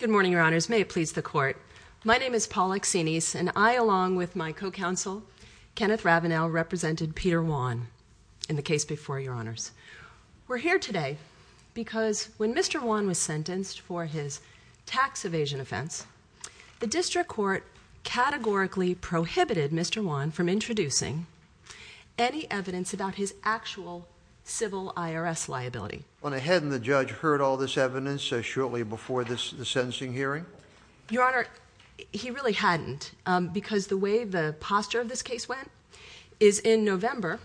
Good morning, your honors. May it please the court. My name is Paula Xenis, and I, along with my co-counsel, Kenneth Ravenel, represented Peter Wan in the case before your honors. We're here today because when Mr. Wan was sentenced for his tax evasion offense, the district court categorically prohibited Mr. Wan from introducing any evidence about his actual civil IRS liability. Hadn't the judge heard all this evidence shortly before the sentencing hearing? Your honor, he really hadn't, because the way the posture of this case went is in November,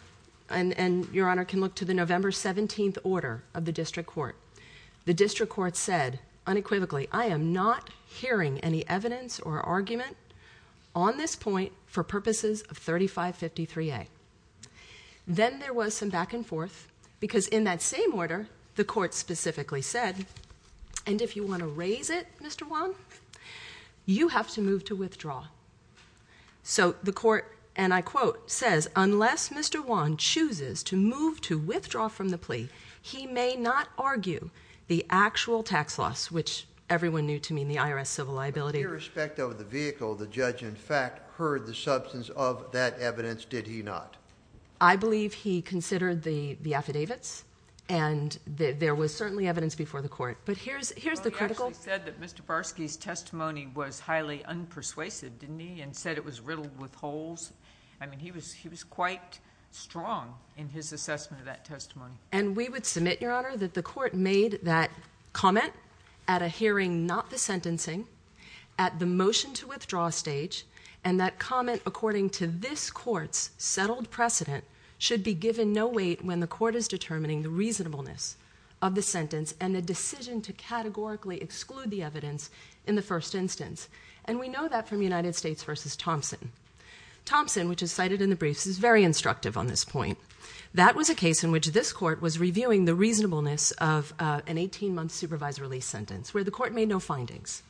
and your honor can look to the November 17th order of the district court. The district court said unequivocally, I am not hearing any evidence or argument on this point for purposes of 3553A. Then there was some back and forth, because in that same order, the court specifically said, and if you want to raise it, Mr. Wan, you have to move to withdraw. So the court, and I quote, says, unless Mr. Wan chooses to move to withdraw from the plea, he may not argue the actual tax loss, which everyone knew to mean the IRS civil liability. With respect to the vehicle, the judge, in fact, heard the substance of that evidence, did he not? I believe he considered the affidavits, and there was certainly evidence before the court, but here's the critical. He actually said that Mr. Barsky's testimony was highly unpersuasive, didn't he, and said it was riddled with holes. I mean, he was quite strong in his assessment of that testimony. And we would submit, Your Honor, that the court made that comment at a hearing not the sentencing, at the motion to withdraw stage, and that comment according to this court's settled precedent should be given no weight when the court is determining the reasonableness of the sentence and the decision to categorically exclude the evidence in the first instance. And we know that from United States v. Thompson. Thompson, which is cited in the briefs, is very instructive on this point. That was a case in which this court was reviewing the reasonableness of an 18-month supervised release sentence where the court made no findings.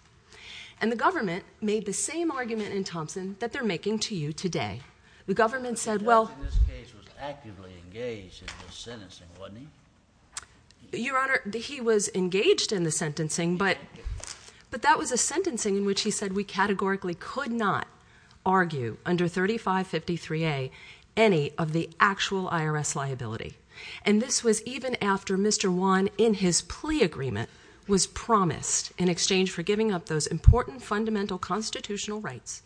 And the government made the same argument in Thompson that they're making to you today. The government said, well... But the judge in this case was actively engaged in the sentencing, wasn't he? Your Honor, he was engaged in the sentencing, but that was a sentencing in which he said we categorically could not argue under 3553A any of the actual IRS liability. And this was even after Mr. Juan, in his plea agreement, was promised, in exchange for giving up those important fundamental constitutional rights,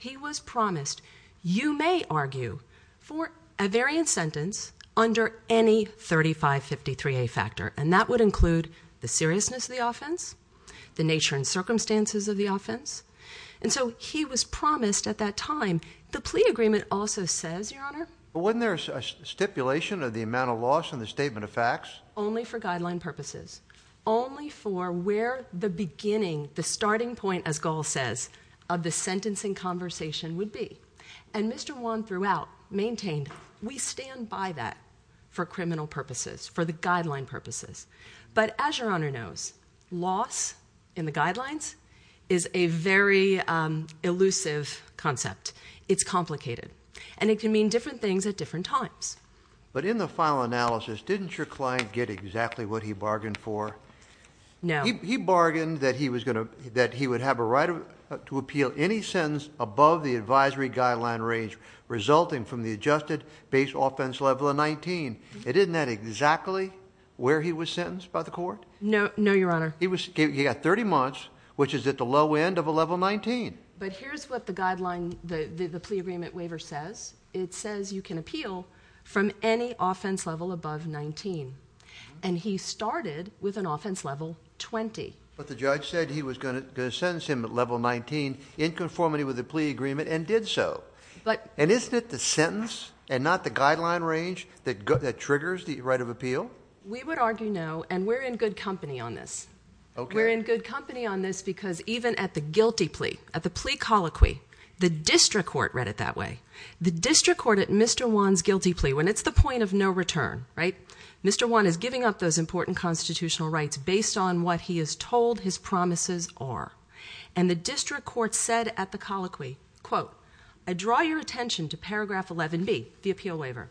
he was promised you may argue for a variant sentence under any 3553A factor. And that would include the seriousness of the offense, the nature and circumstances of the offense. And so he was promised at that time. The plea agreement also says, Your Honor... But wasn't there a stipulation of the amount of loss in the statement of facts? Only for guideline purposes. Only for where the beginning, the starting point, as Gall says, of the sentencing conversation would be. And Mr. Juan, throughout, maintained we stand by that for criminal purposes, for the guideline purposes. But as Your Honor knows, loss in the guidelines is a very elusive concept. It's complicated. And it can mean different things at different times. But in the final analysis, didn't your client get exactly what he bargained for? No. He bargained that he would have a right to appeal any sentence above the advisory guideline range, resulting from the adjusted base offense level of 19. And isn't that exactly where he was sentenced by the court? No, Your Honor. He got 30 months, which is at the low end of a level 19. But here's what the guideline, the plea agreement waiver says. It says you can appeal from any offense level above 19. And he started with an offense level 20. But the judge said he was going to sentence him at level 19 in conformity with the plea agreement and did so. And isn't it the sentence and not the guideline range that triggers the right of appeal? We would argue no, and we're in good company on this. We're in good company on this because even at the guilty plea, at the plea colloquy, the district court read it that way. The district court at Mr. Juan's guilty plea, when it's the point of no return, right? Mr. Juan is giving up those important constitutional rights based on what he is told his promises are. And the district court said at the colloquy, quote, I draw your attention to paragraph 11B, the appeal waiver.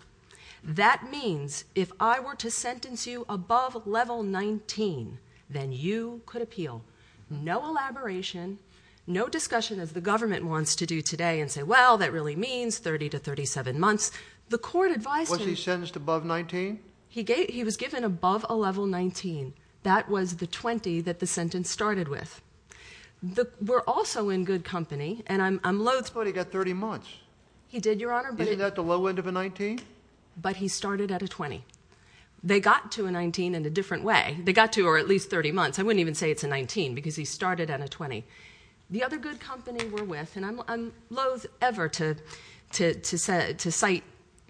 That means if I were to sentence you above level 19, then you could appeal. No elaboration, no discussion as the government wants to do today and say, well, that really means 30 to 37 months. The court advised him. Was he sentenced above 19? He was given above a level 19. That was the 20 that the sentence started with. We're also in good company, and I'm loathe to— But he got 30 months. He did, Your Honor, but— Isn't that the low end of a 19? But he started at a 20. They got to a 19 in a different way. They got to or at least 30 months. I wouldn't even say it's a 19 because he started at a 20. The other good company we're with, and I'm loathe ever to cite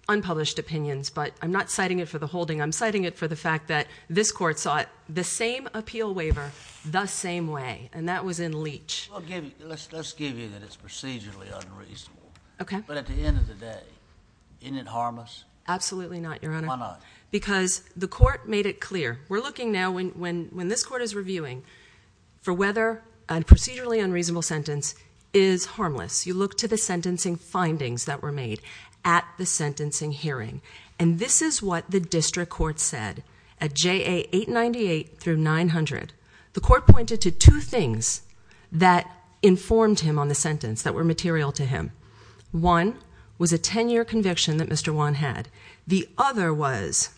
unpublished opinions, but I'm not citing it for the holding. I'm citing it for the fact that this court sought the same appeal waiver the same way, and that was in Leach. Let's give you that it's procedurally unreasonable. Okay. But at the end of the day, didn't it harm us? Absolutely not, Your Honor. Why not? Because the court made it clear. We're looking now when this court is reviewing for whether a procedurally unreasonable sentence is harmless. You look to the sentencing findings that were made at the sentencing hearing, and this is what the district court said. At JA 898 through 900, the court pointed to two things that informed him on the sentence that were material to him. One was a 10-year conviction that Mr. Juan had. The other was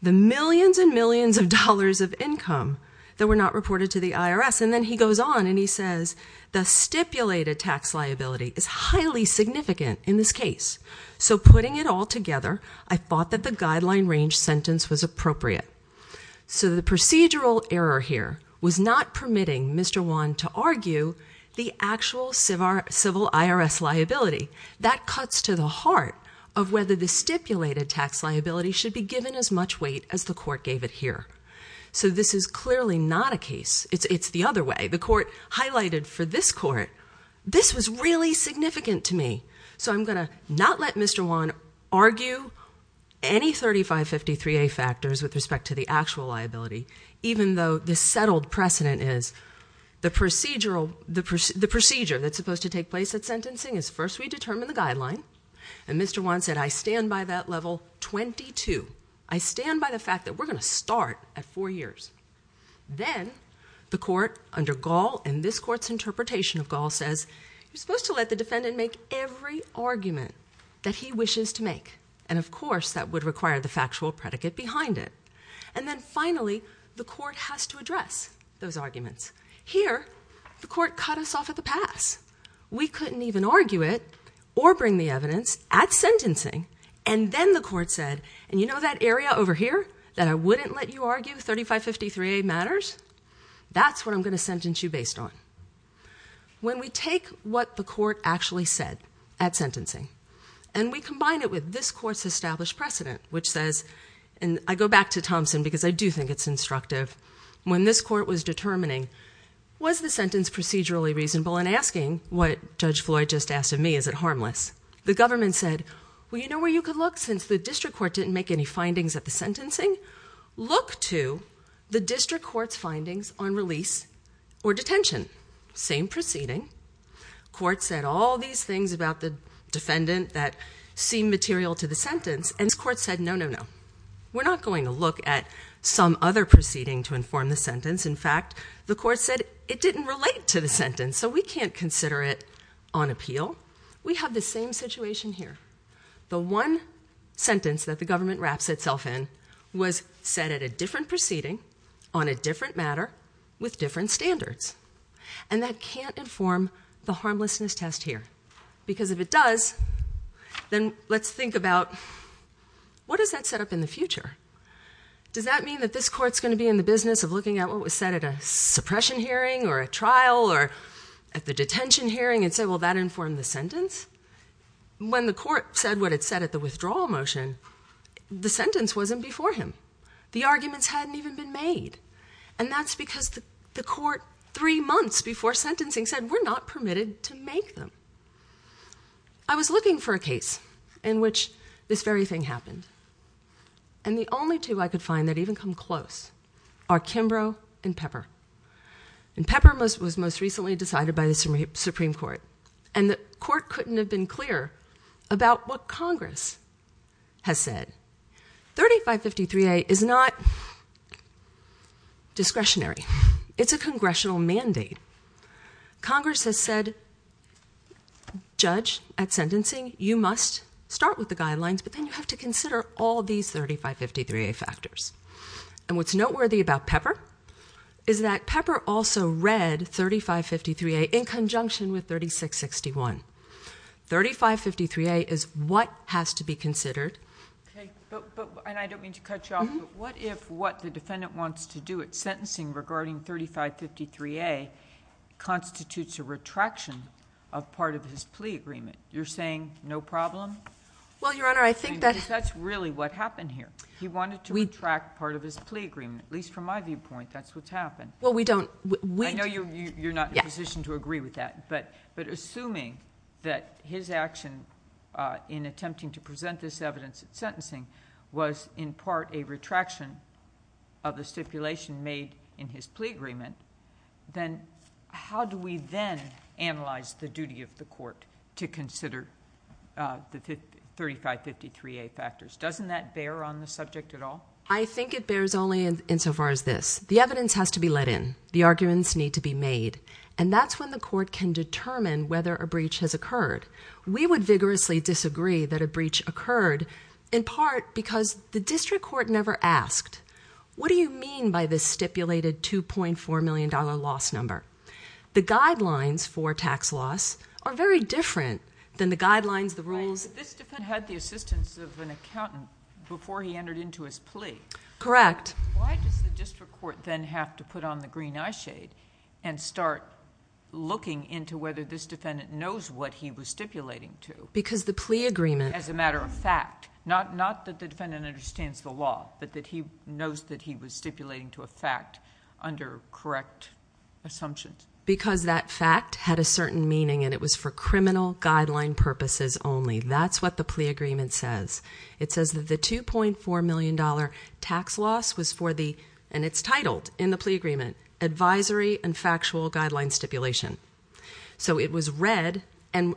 the millions and millions of dollars of income that were not reported to the IRS. And then he goes on and he says the stipulated tax liability is highly significant in this case. So putting it all together, I thought that the guideline range sentence was appropriate. So the procedural error here was not permitting Mr. Juan to argue the actual civil IRS liability. That cuts to the heart of whether the stipulated tax liability should be given as much weight as the court gave it here. So this is clearly not a case. It's the other way. The court highlighted for this court, this was really significant to me. So I'm going to not let Mr. Juan argue any 3553A factors with respect to the actual liability, even though the settled precedent is the procedure that's supposed to take place at sentencing is first we determine the guideline. And Mr. Juan said I stand by that level 22. I stand by the fact that we're going to start at four years. Then the court under Gall and this court's interpretation of Gall says you're supposed to let the defendant make every argument that he wishes to make. And, of course, that would require the factual predicate behind it. And then finally the court has to address those arguments. Here the court cut us off at the pass. We couldn't even argue it or bring the evidence at sentencing. And then the court said, and you know that area over here that I wouldn't let you argue 3553A matters? That's what I'm going to sentence you based on. When we take what the court actually said at sentencing and we combine it with this court's established precedent, which says, and I go back to Thompson because I do think it's instructive. When this court was determining was the sentence procedurally reasonable and asking what Judge Floyd just asked of me, is it harmless? The government said, well, you know where you could look since the district court didn't make any findings at the sentencing? Look to the district court's findings on release or detention. Same proceeding. Court said all these things about the defendant that seemed material to the sentence. And the court said, no, no, no. We're not going to look at some other proceeding to inform the sentence. In fact, the court said it didn't relate to the sentence. So we can't consider it on appeal. We have the same situation here. The one sentence that the government wraps itself in was said at a different proceeding on a different matter with different standards. And that can't inform the harmlessness test here. Because if it does, then let's think about what does that set up in the future? Does that mean that this court's going to be in the business of looking at what was said at a suppression hearing or a trial or at the detention hearing and say, well, that informed the sentence? When the court said what it said at the withdrawal motion, the sentence wasn't before him. The arguments hadn't even been made. And that's because the court three months before sentencing said, we're not permitted to make them. I was looking for a case in which this very thing happened. And the only two I could find that even come close are Kimbrough and Pepper. And Pepper was most recently decided by the Supreme Court. And the court couldn't have been clearer about what Congress has said. 3553A is not discretionary. It's a congressional mandate. Congress has said, judge, at sentencing, you must start with the guidelines, but then you have to consider all these 3553A factors. And what's noteworthy about Pepper is that Pepper also read 3553A in conjunction with 3661. 3553A is what has to be considered. And I don't mean to cut you off, but what if what the defendant wants to do at sentencing regarding 3553A constitutes a retraction of part of his plea agreement? You're saying no problem? Well, Your Honor, I think that's really what happened here. He wanted to retract part of his plea agreement. At least from my viewpoint, that's what's happened. I know you're not in a position to agree with that. But assuming that his action in attempting to present this evidence at sentencing was in part a retraction of the stipulation made in his plea agreement, then how do we then analyze the duty of the court to consider the 3553A factors? Doesn't that bear on the subject at all? I think it bears only insofar as this. The evidence has to be let in. The arguments need to be made. And that's when the court can determine whether a breach has occurred. We would vigorously disagree that a breach occurred in part because the district court never asked, what do you mean by this stipulated $2.4 million loss number? The guidelines for tax loss are very different than the guidelines, the rules. This defendant had the assistance of an accountant before he entered into his plea. Correct. Why does the district court then have to put on the green eye shade and start looking into whether this defendant knows what he was stipulating to? Because the plea agreement. As a matter of fact. Not that the defendant understands the law, but that he knows that he was stipulating to a fact under correct assumptions. Because that fact had a certain meaning and it was for criminal guideline purposes only. That's what the plea agreement says. It says that the $2.4 million tax loss was for the, and it's titled in the plea agreement, advisory and factual guideline stipulation. So it was read, and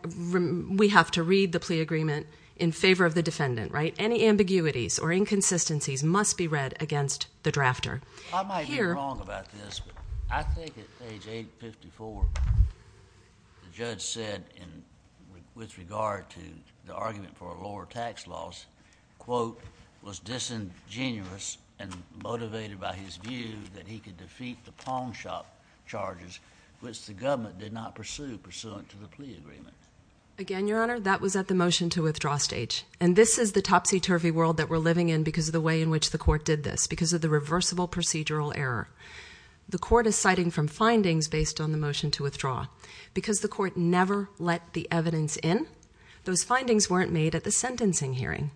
we have to read the plea agreement in favor of the defendant, right? Any ambiguities or inconsistencies must be read against the drafter. I might be wrong about this, but I think at age 854, the judge said with regard to the argument for a lower tax loss, quote, was disingenuous and motivated by his view that he could defeat the pawn shop charges, which the government did not pursue pursuant to the plea agreement. Again, Your Honor, that was at the motion to withdraw stage. And this is the topsy turvy world that we're living in because of the way in which the court did this. Because of the reversible procedural error. The court is citing from findings based on the motion to withdraw. Because the court never let the evidence in, those findings weren't made at the sentencing hearing.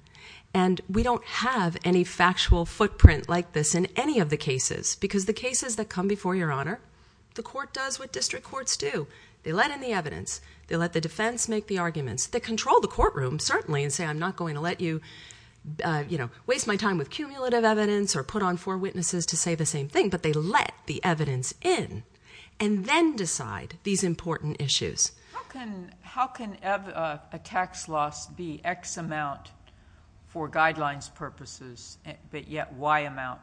And we don't have any factual footprint like this in any of the cases. Because the cases that come before Your Honor, the court does what district courts do. They let in the evidence. They let the defense make the arguments. They control the courtroom, certainly, and say I'm not going to let you, you know, waste my time with cumulative evidence or put on four witnesses to say the same thing. But they let the evidence in. And then decide these important issues. How can a tax loss be X amount for guidelines purposes, but yet Y amount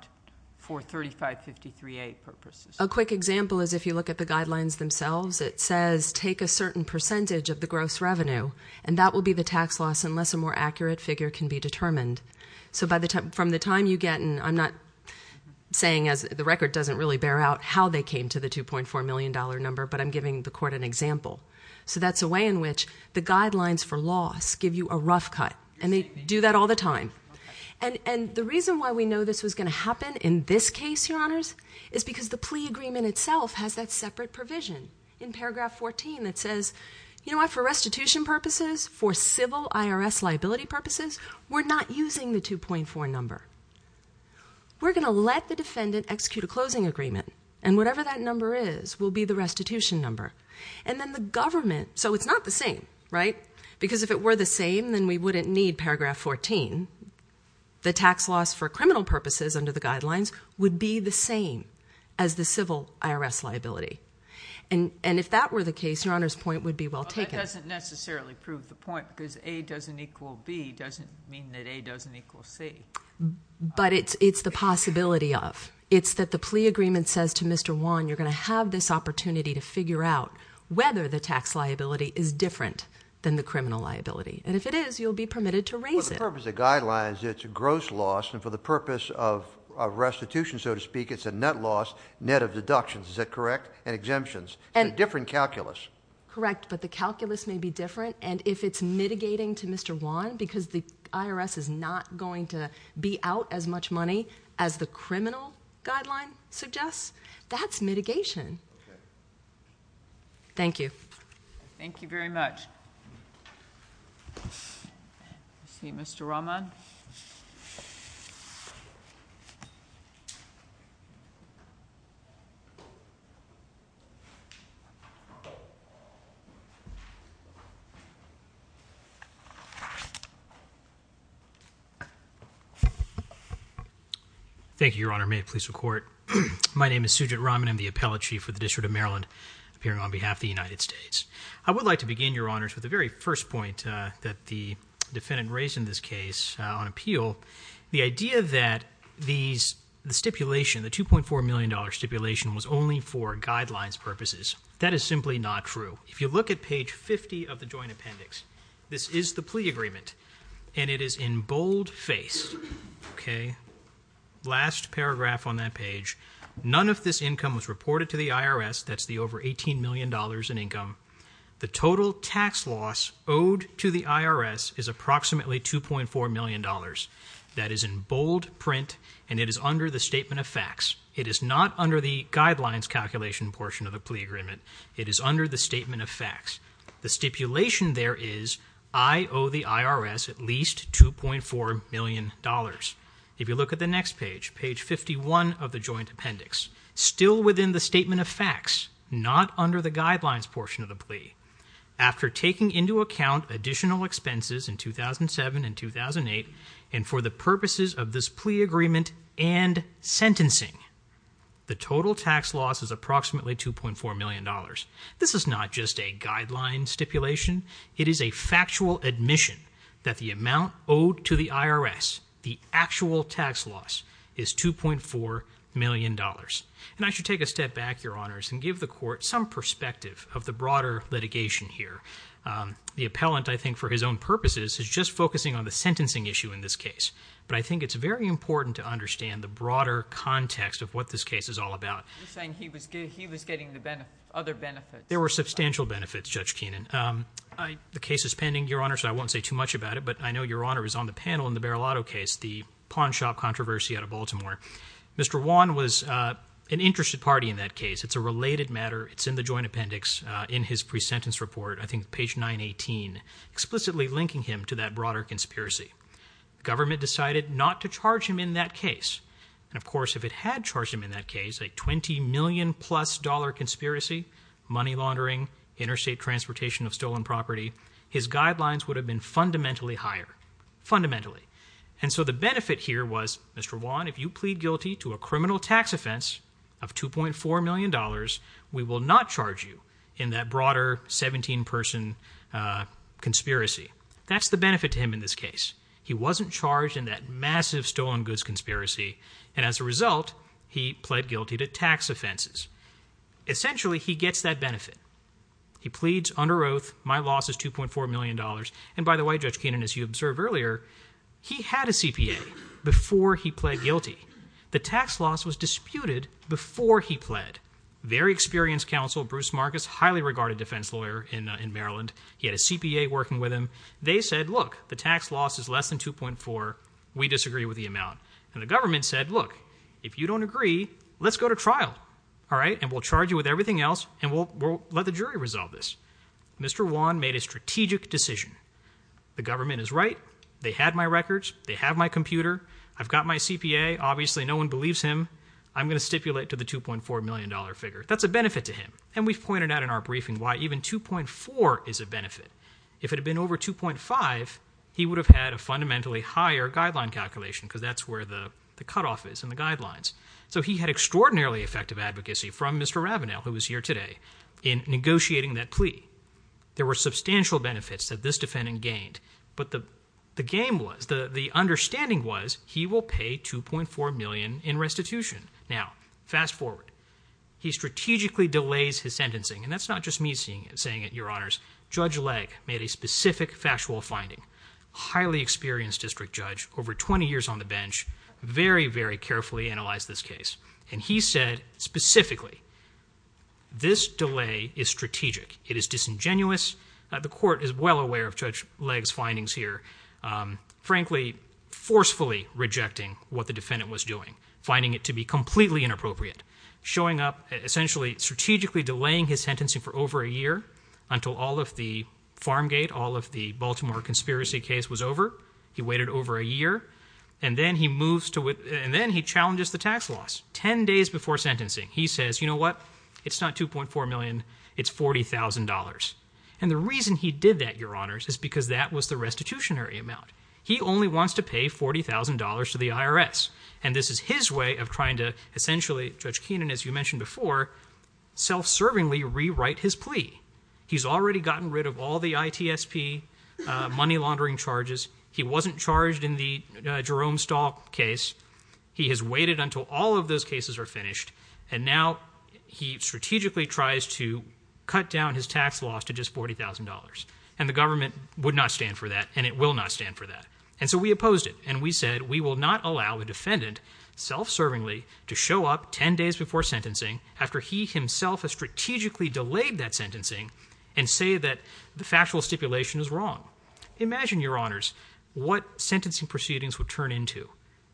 for 3553A purposes? A quick example is if you look at the guidelines themselves, it says take a certain percentage of the gross revenue. And that will be the tax loss unless a more accurate figure can be determined. So from the time you get in, I'm not saying the record doesn't really bear out how they came to the $2.4 million number. But I'm giving the court an example. So that's a way in which the guidelines for loss give you a rough cut. And they do that all the time. And the reason why we know this was going to happen in this case, Your Honors, is because the plea agreement itself has that separate provision in paragraph 14 that says, you know what? For restitution purposes, for civil IRS liability purposes, we're not using the 2.4 number. We're going to let the defendant execute a closing agreement. And whatever that number is will be the restitution number. And then the government, so it's not the same, right? Because if it were the same, then we wouldn't need paragraph 14. The tax loss for criminal purposes under the guidelines would be the same as the civil IRS liability. And if that were the case, Your Honors, the point would be well taken. But that doesn't necessarily prove the point because A doesn't equal B doesn't mean that A doesn't equal C. But it's the possibility of. It's that the plea agreement says to Mr. Juan, you're going to have this opportunity to figure out whether the tax liability is different than the criminal liability. And if it is, you'll be permitted to raise it. For the purpose of guidelines, it's a gross loss. And for the purpose of restitution, so to speak, it's a net loss, net of deductions. Is that correct? And exemptions and different calculus. Correct. But the calculus may be different. And if it's mitigating to Mr. Juan because the IRS is not going to be out as much money as the criminal guideline suggests, that's mitigation. Thank you. Thank you very much. I see Mr. Rahman. Thank you, Your Honor. May it please the Court. My name is Sujit Rahman. I'm the appellate chief for the District of Maryland, appearing on behalf of the United States. I would like to begin, Your Honors, with the very first point that the defendant raised in this case on appeal. The idea that the stipulation, the $2.4 million stipulation, was only for guidelines purposes. That is simply not true. If you look at page 50 of the joint appendix, this is the plea agreement. And it is in bold face. Okay? Last paragraph on that page. None of this income was reported to the IRS. That's the over $18 million in income. The total tax loss owed to the IRS is approximately $2.4 million. That is in bold print. And it is under the statement of facts. It is not under the guidelines calculation portion of the plea agreement. It is under the statement of facts. The stipulation there is, I owe the IRS at least $2.4 million. If you look at the next page, page 51 of the joint appendix. Still within the statement of facts. Not under the guidelines portion of the plea. After taking into account additional expenses in 2007 and 2008, and for the purposes of this plea agreement and sentencing, the total tax loss is approximately $2.4 million. This is not just a guideline stipulation. It is a factual admission that the amount owed to the IRS, the actual tax loss, is $2.4 million. And I should take a step back, your honors, and give the court some perspective of the broader litigation here. The appellant, I think, for his own purposes, is just focusing on the sentencing issue in this case. But I think it's very important to understand the broader context of what this case is all about. You're saying he was getting other benefits. There were substantial benefits, Judge Keenan. The case is pending, your honors, so I won't say too much about it. But I know your honor is on the panel in the Barilotto case, the pawn shop controversy out of Baltimore. Mr. Wan was an interested party in that case. It's a related matter. It's in the joint appendix in his pre-sentence report, I think page 918, explicitly linking him to that broader conspiracy. Government decided not to charge him in that case. And, of course, if it had charged him in that case, a $20 million-plus conspiracy, money laundering, interstate transportation of stolen property, his guidelines would have been fundamentally higher. Fundamentally. And so the benefit here was, Mr. Wan, if you plead guilty to a criminal tax offense of $2.4 million, we will not charge you in that broader 17-person conspiracy. That's the benefit to him in this case. He wasn't charged in that massive stolen goods conspiracy. And as a result, he pled guilty to tax offenses. Essentially, he gets that benefit. He pleads under oath, my loss is $2.4 million. And, by the way, Judge Keenan, as you observed earlier, he had a CPA before he pled guilty. The tax loss was disputed before he pled. Very experienced counsel, Bruce Marcus, highly regarded defense lawyer in Maryland. He had a CPA working with him. They said, look, the tax loss is less than $2.4. We disagree with the amount. And the government said, look, if you don't agree, let's go to trial. All right? And we'll charge you with everything else, and we'll let the jury resolve this. Mr. Wan made a strategic decision. The government is right. They had my records. They have my computer. I've got my CPA. Obviously, no one believes him. I'm going to stipulate to the $2.4 million figure. That's a benefit to him. And we've pointed out in our briefing why even $2.4 is a benefit. If it had been over $2.5, he would have had a fundamentally higher guideline calculation because that's where the cutoff is in the guidelines. So he had extraordinarily effective advocacy from Mr. Ravenel, who is here today, in negotiating that plea. There were substantial benefits that this defendant gained. But the game was, the understanding was he will pay $2.4 million in restitution. Now, fast forward. He strategically delays his sentencing. And that's not just me saying it, Your Honors. Judge Legg made a specific factual finding. Highly experienced district judge, over 20 years on the bench, very, very carefully analyzed this case. And he said specifically, this delay is strategic. It is disingenuous. The court is well aware of Judge Legg's findings here. Frankly, forcefully rejecting what the defendant was doing, finding it to be completely inappropriate, showing up, essentially strategically delaying his sentencing for over a year until all of the Farmgate, all of the Baltimore conspiracy case was over. He waited over a year. And then he moves to, and then he challenges the tax laws. Ten days before sentencing, he says, you know what? It's not $2.4 million. It's $40,000. And the reason he did that, Your Honors, is because that was the restitutionary amount. He only wants to pay $40,000 to the IRS. And this is his way of trying to essentially, Judge Keenan, as you mentioned before, self-servingly rewrite his plea. He's already gotten rid of all the ITSP money laundering charges. He wasn't charged in the Jerome Stahl case. He has waited until all of those cases are finished. And now he strategically tries to cut down his tax laws to just $40,000. And the government would not stand for that, and it will not stand for that. And so we opposed it. And we said we will not allow a defendant self-servingly to show up ten days before sentencing after he himself has strategically delayed that sentencing and say that the factual stipulation is wrong. Imagine, Your Honors, what sentencing proceedings would turn into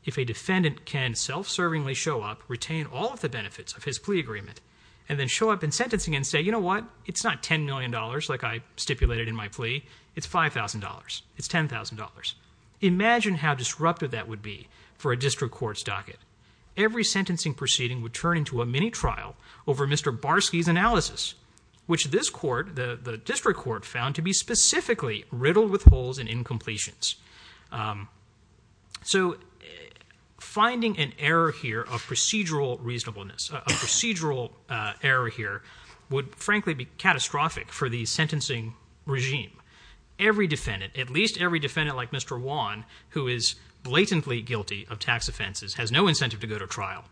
if a defendant can self-servingly show up, retain all of the benefits of his plea agreement, and then show up in sentencing and say, you know what? It's not $10 million like I stipulated in my plea. It's $5,000. It's $10,000. Imagine how disruptive that would be for a district court's docket. Every sentencing proceeding would turn into a mini-trial over Mr. Barsky's analysis, which this court, the district court, found to be specifically riddled with holes and incompletions. So finding an error here of procedural reasonableness, a procedural error here would frankly be catastrophic for the sentencing regime. Every defendant, at least every defendant like Mr. Wan, who is blatantly guilty of tax offenses, has no incentive to go to trial,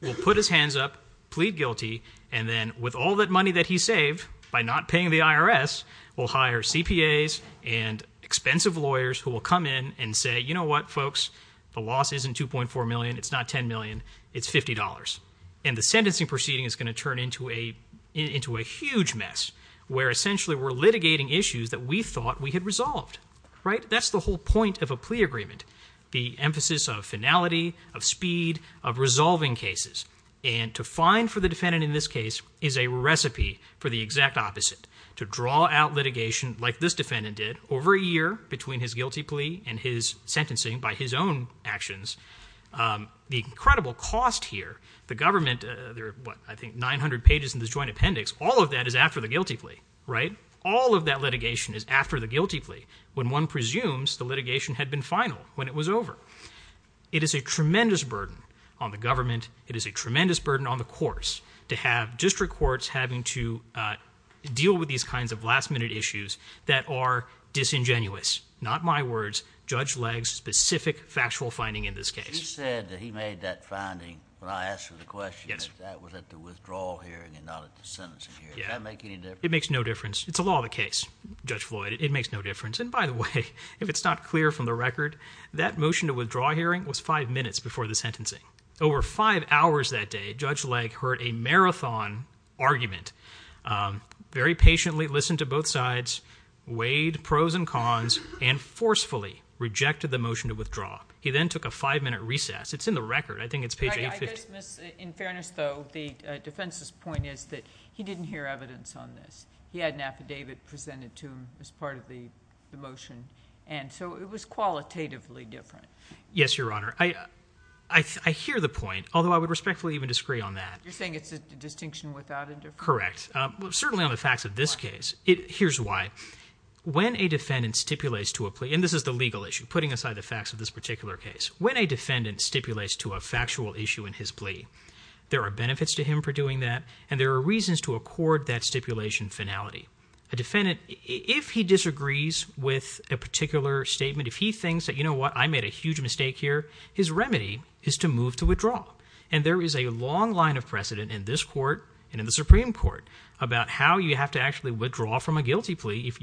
will put his hands up, plead guilty, and then with all that money that he saved by not paying the IRS, will hire CPAs and expensive lawyers who will come in and say, you know what, folks? The loss isn't $2.4 million. It's not $10 million. It's $50. And the sentencing proceeding is going to turn into a huge mess where essentially we're litigating issues that we thought we had resolved. That's the whole point of a plea agreement, the emphasis of finality, of speed, of resolving cases. And to find for the defendant in this case is a recipe for the exact opposite, to draw out litigation like this defendant did over a year between his guilty plea and his sentencing by his own actions. The incredible cost here, the government, there are, what, I think 900 pages in this joint appendix. All of that is after the guilty plea, right? All of that litigation is after the guilty plea when one presumes the litigation had been final when it was over. It is a tremendous burden on the government. It is a tremendous burden on the courts to have district courts having to deal with these kinds of last-minute issues that are disingenuous. Not my words. Judge Legg's specific factual finding in this case. It makes no difference. It's a law of the case, Judge Floyd. It makes no difference. And by the way, if it's not clear from the record, that motion to withdraw hearing was five minutes before the sentencing. Over five hours that day, Judge Legg heard a marathon argument, very patiently listened to both sides, weighed pros and cons, and forcefully rejected the motion to withdraw. He then took a five-minute recess. It's in the record. I think it's page 850. In fairness, though, the defense's point is that he didn't hear evidence on this. He had an affidavit presented to him as part of the motion, and so it was qualitatively different. Yes, Your Honor. I hear the point, although I would respectfully even disagree on that. You're saying it's a distinction without a difference? Correct. Certainly on the facts of this case. Here's why. When a defendant stipulates to a plea, and this is the legal issue, putting aside the facts of this particular case. When a defendant stipulates to a factual issue in his plea, there are benefits to him for doing that, and there are reasons to accord that stipulation finality. A defendant, if he disagrees with a particular statement, if he thinks that, you know what, I made a huge mistake here, his remedy is to move to withdraw. And there is a long line of precedent in this court and in the Supreme Court about how you have to actually withdraw from a guilty plea if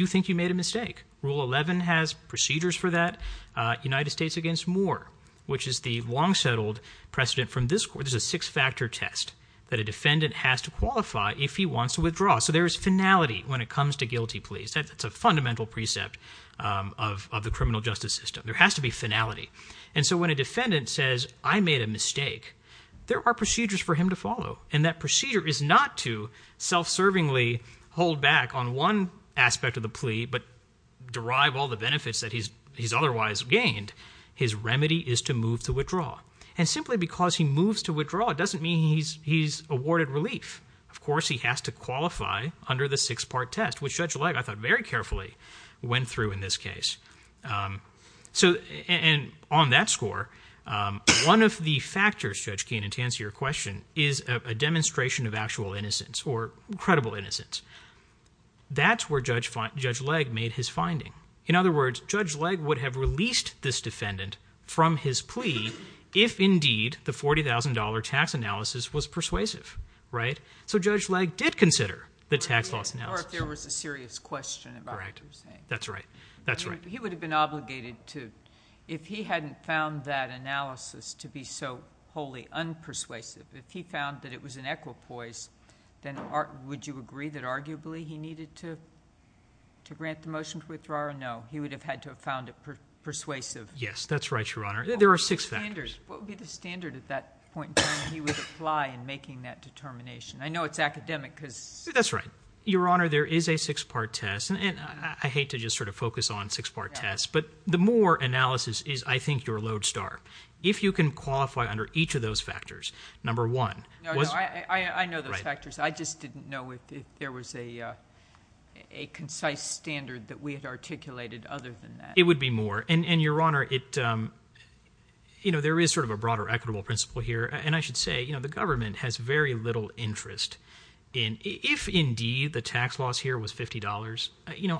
you think you made a mistake. Rule 11 has procedures for that, United States against Moore, which is the long-settled precedent from this court. It's a six-factor test that a defendant has to qualify if he wants to withdraw. So there is finality when it comes to guilty pleas. That's a fundamental precept of the criminal justice system. There has to be finality. And so when a defendant says, I made a mistake, there are procedures for him to follow, and that procedure is not to self-servingly hold back on one aspect of the plea but derive all the benefits that he's otherwise gained. His remedy is to move to withdraw. And simply because he moves to withdraw doesn't mean he's awarded relief. Of course, he has to qualify under the six-part test, which Judge Legge, I thought, very carefully went through in this case. So – and on that score, one of the factors, Judge Keenan, to answer your question is a demonstration of actual innocence or credible innocence. That's where Judge Legge made his finding. In other words, Judge Legge would have released this defendant from his plea if indeed the $40,000 tax analysis was persuasive. Right? So Judge Legge did consider the tax loss analysis. Or if there was a serious question about what you're saying. Correct. That's right. That's right. He would have been obligated to – if he hadn't found that analysis to be so wholly unpersuasive, if he found that it was an equipoise, then would you agree that arguably he needed to grant the motion to withdraw or no? He would have had to have found it persuasive. Yes, that's right, Your Honor. There are six factors. What would be the standard at that point in time he would apply in making that determination? I know it's academic because – That's right. Your Honor, there is a six-part test, and I hate to just sort of focus on six-part tests, but the Moore analysis is, I think, your lodestar. If you can qualify under each of those factors, number one – No, no. I know those factors. I just didn't know if there was a concise standard that we had articulated other than that. It would be Moore. And, Your Honor, there is sort of a broader equitable principle here, and I should say the government has very little interest in – if indeed the tax loss here was $50,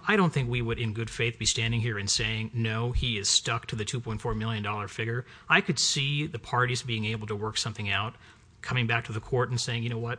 I don't think we would in good faith be standing here and saying, no, he is stuck to the $2.4 million figure. I could see the parties being able to work something out, coming back to the court and saying, you know what,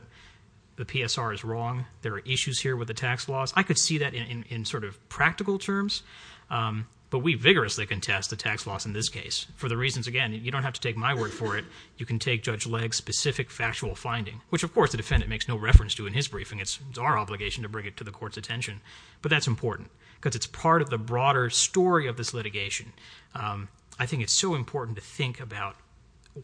the PSR is wrong. There are issues here with the tax loss. I could see that in sort of practical terms, but we vigorously contest the tax loss in this case for the reasons, again, you don't have to take my word for it. You can take Judge Legg's specific factual finding, which, of course, the defendant makes no reference to in his briefing. It's our obligation to bring it to the court's attention, but that's important because it's part of the broader story of this litigation. I think it's so important to think about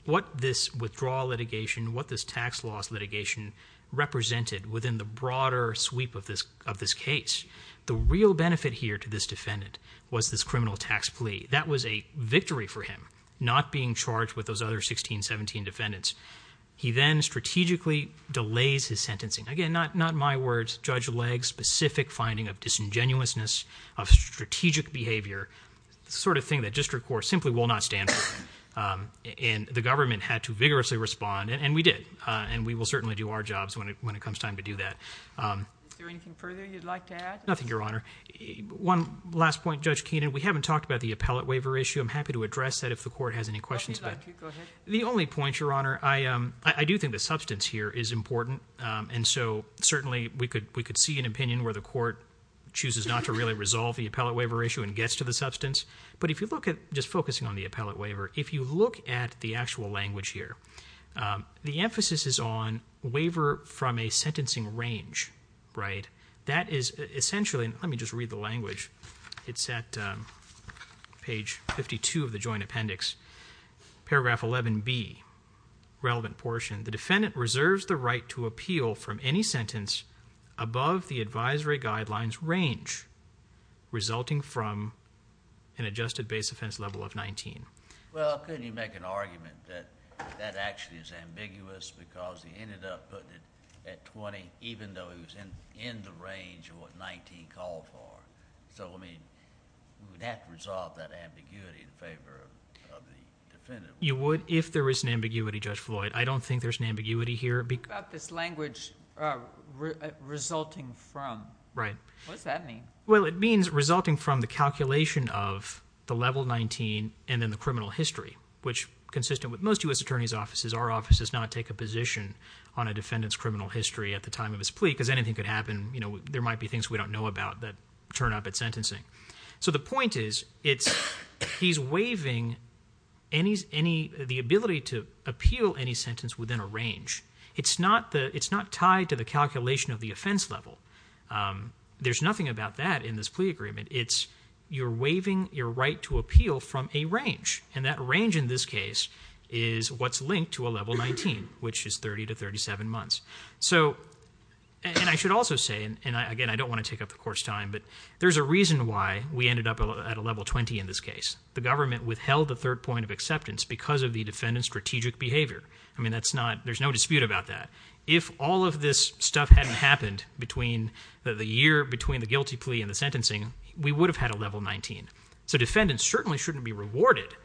what this withdrawal litigation, what this tax loss litigation represented within the broader sweep of this case. The real benefit here to this defendant was this criminal tax plea. That was a victory for him, not being charged with those other 16, 17 defendants. He then strategically delays his sentencing. Again, not my words. Judge Legg's specific finding of disingenuousness, of strategic behavior, the sort of thing that district court simply will not stand for. And the government had to vigorously respond, and we did. And we will certainly do our jobs when it comes time to do that. Is there anything further you'd like to add? Nothing, Your Honor. One last point, Judge Keenan. We haven't talked about the appellate waiver issue. I'm happy to address that if the court has any questions about it. The only point, Your Honor, I do think the substance here is important. And so certainly we could see an opinion where the court chooses not to really resolve the appellate waiver issue and gets to the substance. But if you look at, just focusing on the appellate waiver, if you look at the actual language here, the emphasis is on waiver from a sentencing range, right? That is essentially, let me just read the language. It's at page 52 of the joint appendix, paragraph 11B, relevant portion. The defendant reserves the right to appeal from any sentence above the advisory guidelines range resulting from an adjusted base offense level of 19. Well, couldn't you make an argument that that actually is ambiguous because he ended up putting it at 20 even though he was in the range of what 19 called for? So, I mean, we would have to resolve that ambiguity in favor of the defendant. You would if there was an ambiguity, Judge Floyd. But I don't think there's an ambiguity here. What about this language resulting from? Right. What does that mean? Well, it means resulting from the calculation of the level 19 and then the criminal history, which consistent with most U.S. attorney's offices, our office does not take a position on a defendant's criminal history at the time of his plea because anything could happen. There might be things we don't know about that turn up at sentencing. So the point is he's waiving the ability to appeal any sentence within a range. It's not tied to the calculation of the offense level. There's nothing about that in this plea agreement. It's you're waiving your right to appeal from a range, and that range in this case is what's linked to a level 19, which is 30 to 37 months. And I should also say, and again, I don't want to take up the court's time, but there's a reason why we ended up at a level 20 in this case. The government withheld the third point of acceptance because of the defendant's strategic behavior. I mean, that's not – there's no dispute about that. If all of this stuff hadn't happened between the year, between the guilty plea and the sentencing, we would have had a level 19. So defendants certainly shouldn't be rewarded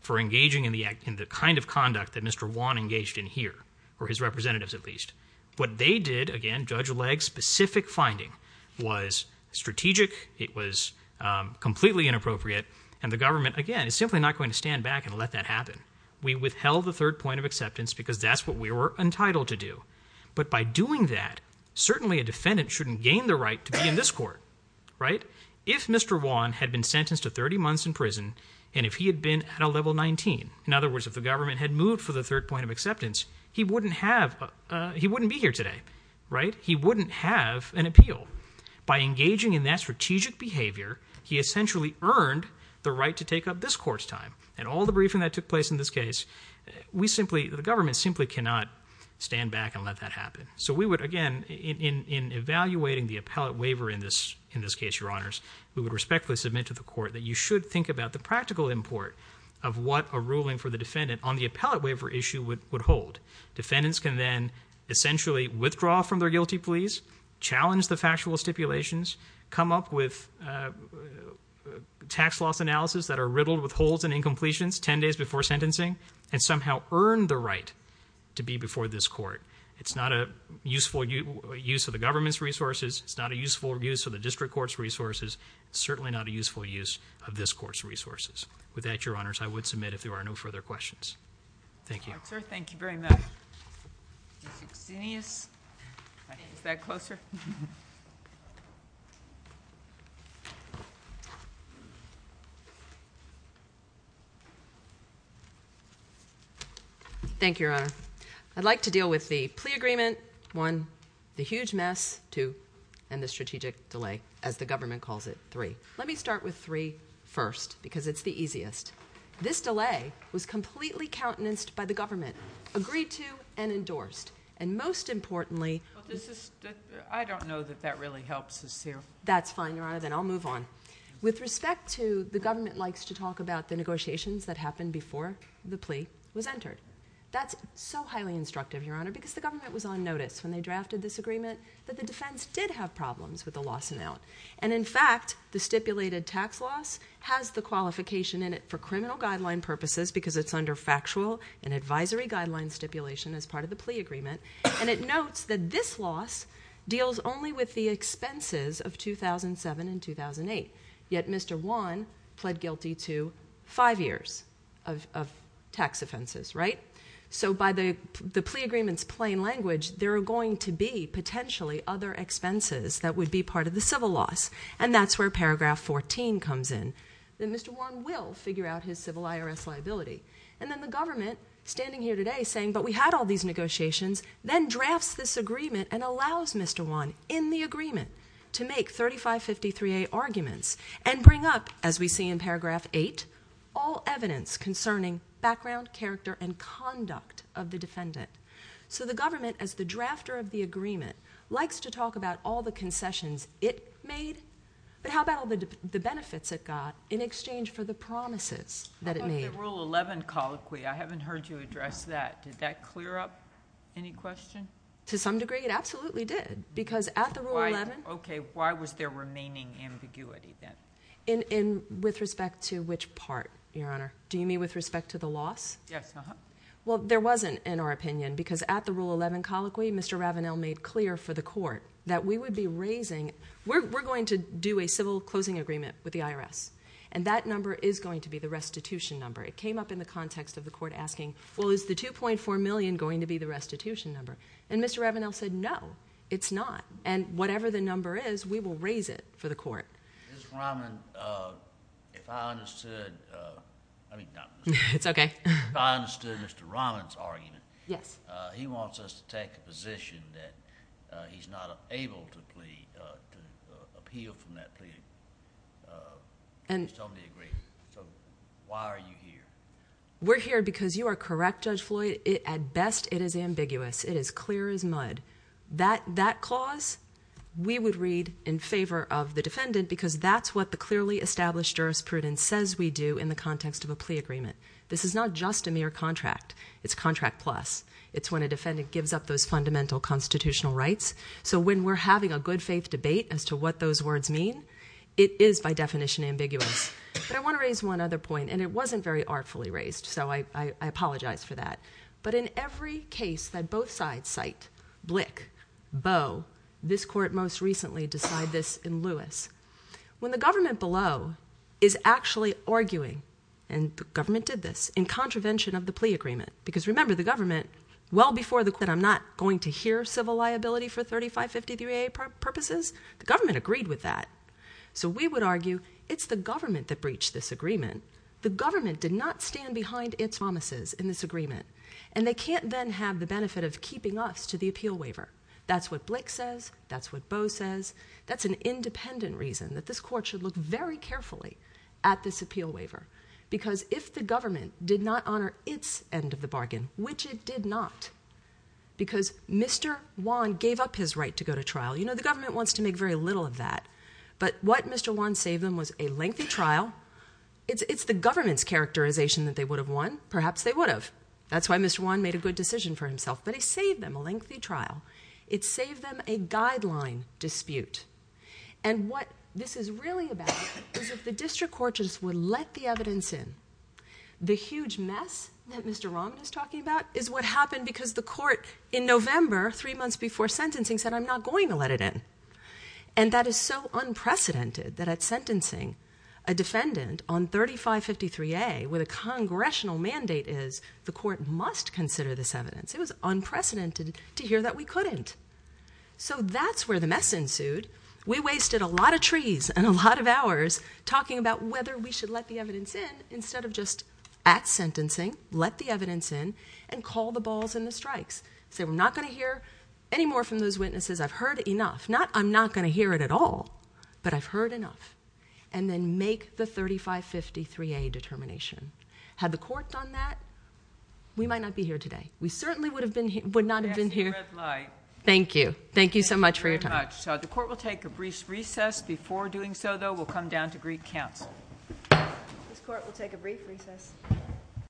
for engaging in the kind of conduct that Mr. Wan engaged in here, or his representatives at least. What they did, again, Judge Legg's specific finding, was strategic. It was completely inappropriate, and the government, again, is simply not going to stand back and let that happen. We withheld the third point of acceptance because that's what we were entitled to do. But by doing that, certainly a defendant shouldn't gain the right to be in this court, right? If Mr. Wan had been sentenced to 30 months in prison, and if he had been at a level 19, in other words, if the government had moved for the third point of acceptance, he wouldn't have – he wouldn't be here today, right? He wouldn't have an appeal. By engaging in that strategic behavior, he essentially earned the right to take up this court's time. And all the briefing that took place in this case, we simply – the government simply cannot stand back and let that happen. So we would, again, in evaluating the appellate waiver in this case, Your Honors, we would respectfully submit to the court that you should think about the practical import of what a ruling for the defendant on the appellate waiver issue would hold. Defendants can then essentially withdraw from their guilty pleas, challenge the factual stipulations, come up with tax loss analysis that are riddled with holes and incompletions 10 days before sentencing, and somehow earn the right to be before this court. It's not a useful use of the government's resources. It's not a useful use of the district court's resources. It's certainly not a useful use of this court's resources. With that, Your Honors, I would submit if there are no further questions. Thank you. All right, sir. Thank you very much. Ms. Exinius? Is that closer? Thank you, Your Honor. I'd like to deal with the plea agreement, one, the huge mess, two, and the strategic delay, as the government calls it, three. Let me start with three first because it's the easiest. This delay was completely countenanced by the government, agreed to and endorsed, and most importantly— I don't know that that really helps us here. That's fine, Your Honor. Then I'll move on. With respect to the government likes to talk about the negotiations that happened before the plea was entered. That's so highly instructive, Your Honor, because the government was on notice when they drafted this agreement that the defense did have problems with the loss and out. And, in fact, the stipulated tax loss has the qualification in it for criminal guideline purposes because it's under factual and advisory guideline stipulation as part of the plea agreement. And it notes that this loss deals only with the expenses of 2007 and 2008. Yet Mr. Wan pled guilty to five years of tax offenses, right? So by the plea agreement's plain language, there are going to be potentially other expenses that would be part of the civil loss. And that's where paragraph 14 comes in, that Mr. Wan will figure out his civil IRS liability. And then the government, standing here today, saying, but we had all these negotiations, then drafts this agreement and allows Mr. Wan, in the agreement, to make 3553A arguments and bring up, as we see in paragraph 8, all evidence concerning background, character, and conduct of the defendant. So the government, as the drafter of the agreement, likes to talk about all the concessions it made. But how about all the benefits it got in exchange for the promises that it made? At the Rule 11 colloquy, I haven't heard you address that. Did that clear up any question? To some degree, it absolutely did. Because at the Rule 11... Okay, why was there remaining ambiguity, then? In with respect to which part, Your Honor? Do you mean with respect to the loss? Yes, uh-huh. Well, there wasn't, in our opinion, because at the Rule 11 colloquy, Mr. Ravenel made clear for the court that we would be raising... We're going to do a civil closing agreement with the IRS, and that number is going to be the restitution number. It came up in the context of the court asking, well, is the 2.4 million going to be the restitution number? And Mr. Ravenel said, no, it's not. And whatever the number is, we will raise it for the court. Ms. Raman, if I understood... I mean, not Mr. Raman. It's okay. If I understood Mr. Raman's argument... Yes. He wants us to take a position that he's not able to appeal from that plea. He's told me he agrees. So, why are you here? We're here because you are correct, Judge Floyd. At best, it is ambiguous. It is clear as mud. That clause, we would read in favor of the defendant because that's what the clearly established jurisprudence says we do in the context of a plea agreement. This is not just a mere contract. It's contract plus. It's when a defendant gives up those fundamental constitutional rights. So, when we're having a good faith debate as to what those words mean, it is by definition ambiguous. But I want to raise one other point, and it wasn't very artfully raised, so I apologize for that. But in every case that both sides cite, Blick, Bowe, this court most recently decided this in Lewis. When the government below is actually arguing, and the government did this, in contravention of the plea agreement, because remember the government, well before the... I'm not going to hear civil liability for 3553A purposes. The government agreed with that. So, we would argue it's the government that breached this agreement. The government did not stand behind its promises in this agreement, and they can't then have the benefit of keeping us to the appeal waiver. That's what Blick says. That's what Bowe says. That's an independent reason that this court should look very carefully at this appeal waiver. Because if the government did not honor its end of the bargain, which it did not, because Mr. Wan gave up his right to go to trial. You know, the government wants to make very little of that. But what Mr. Wan saved them was a lengthy trial. It's the government's characterization that they would have won. Perhaps they would have. That's why Mr. Wan made a good decision for himself. But he saved them a lengthy trial. It saved them a guideline dispute. And what this is really about is if the district court just would let the evidence in. The huge mess that Mr. Roman is talking about is what happened because the court in November, three months before sentencing, said, I'm not going to let it in. And that is so unprecedented that at sentencing, a defendant on 3553A with a congressional mandate is, the court must consider this evidence. It was unprecedented to hear that we couldn't. So that's where the mess ensued. We wasted a lot of trees and a lot of hours talking about whether we should let the evidence in instead of just at sentencing, let the evidence in, and call the balls and the strikes. Say, we're not going to hear any more from those witnesses. I've heard enough. Not I'm not going to hear it at all, but I've heard enough. And then make the 3553A determination. Had the court done that, we might not be here today. We certainly would not have been here. Thank you. Thank you so much for your time. The court will take a brief recess. Before doing so, though, we'll come down to Greek Council. This court will take a brief recess.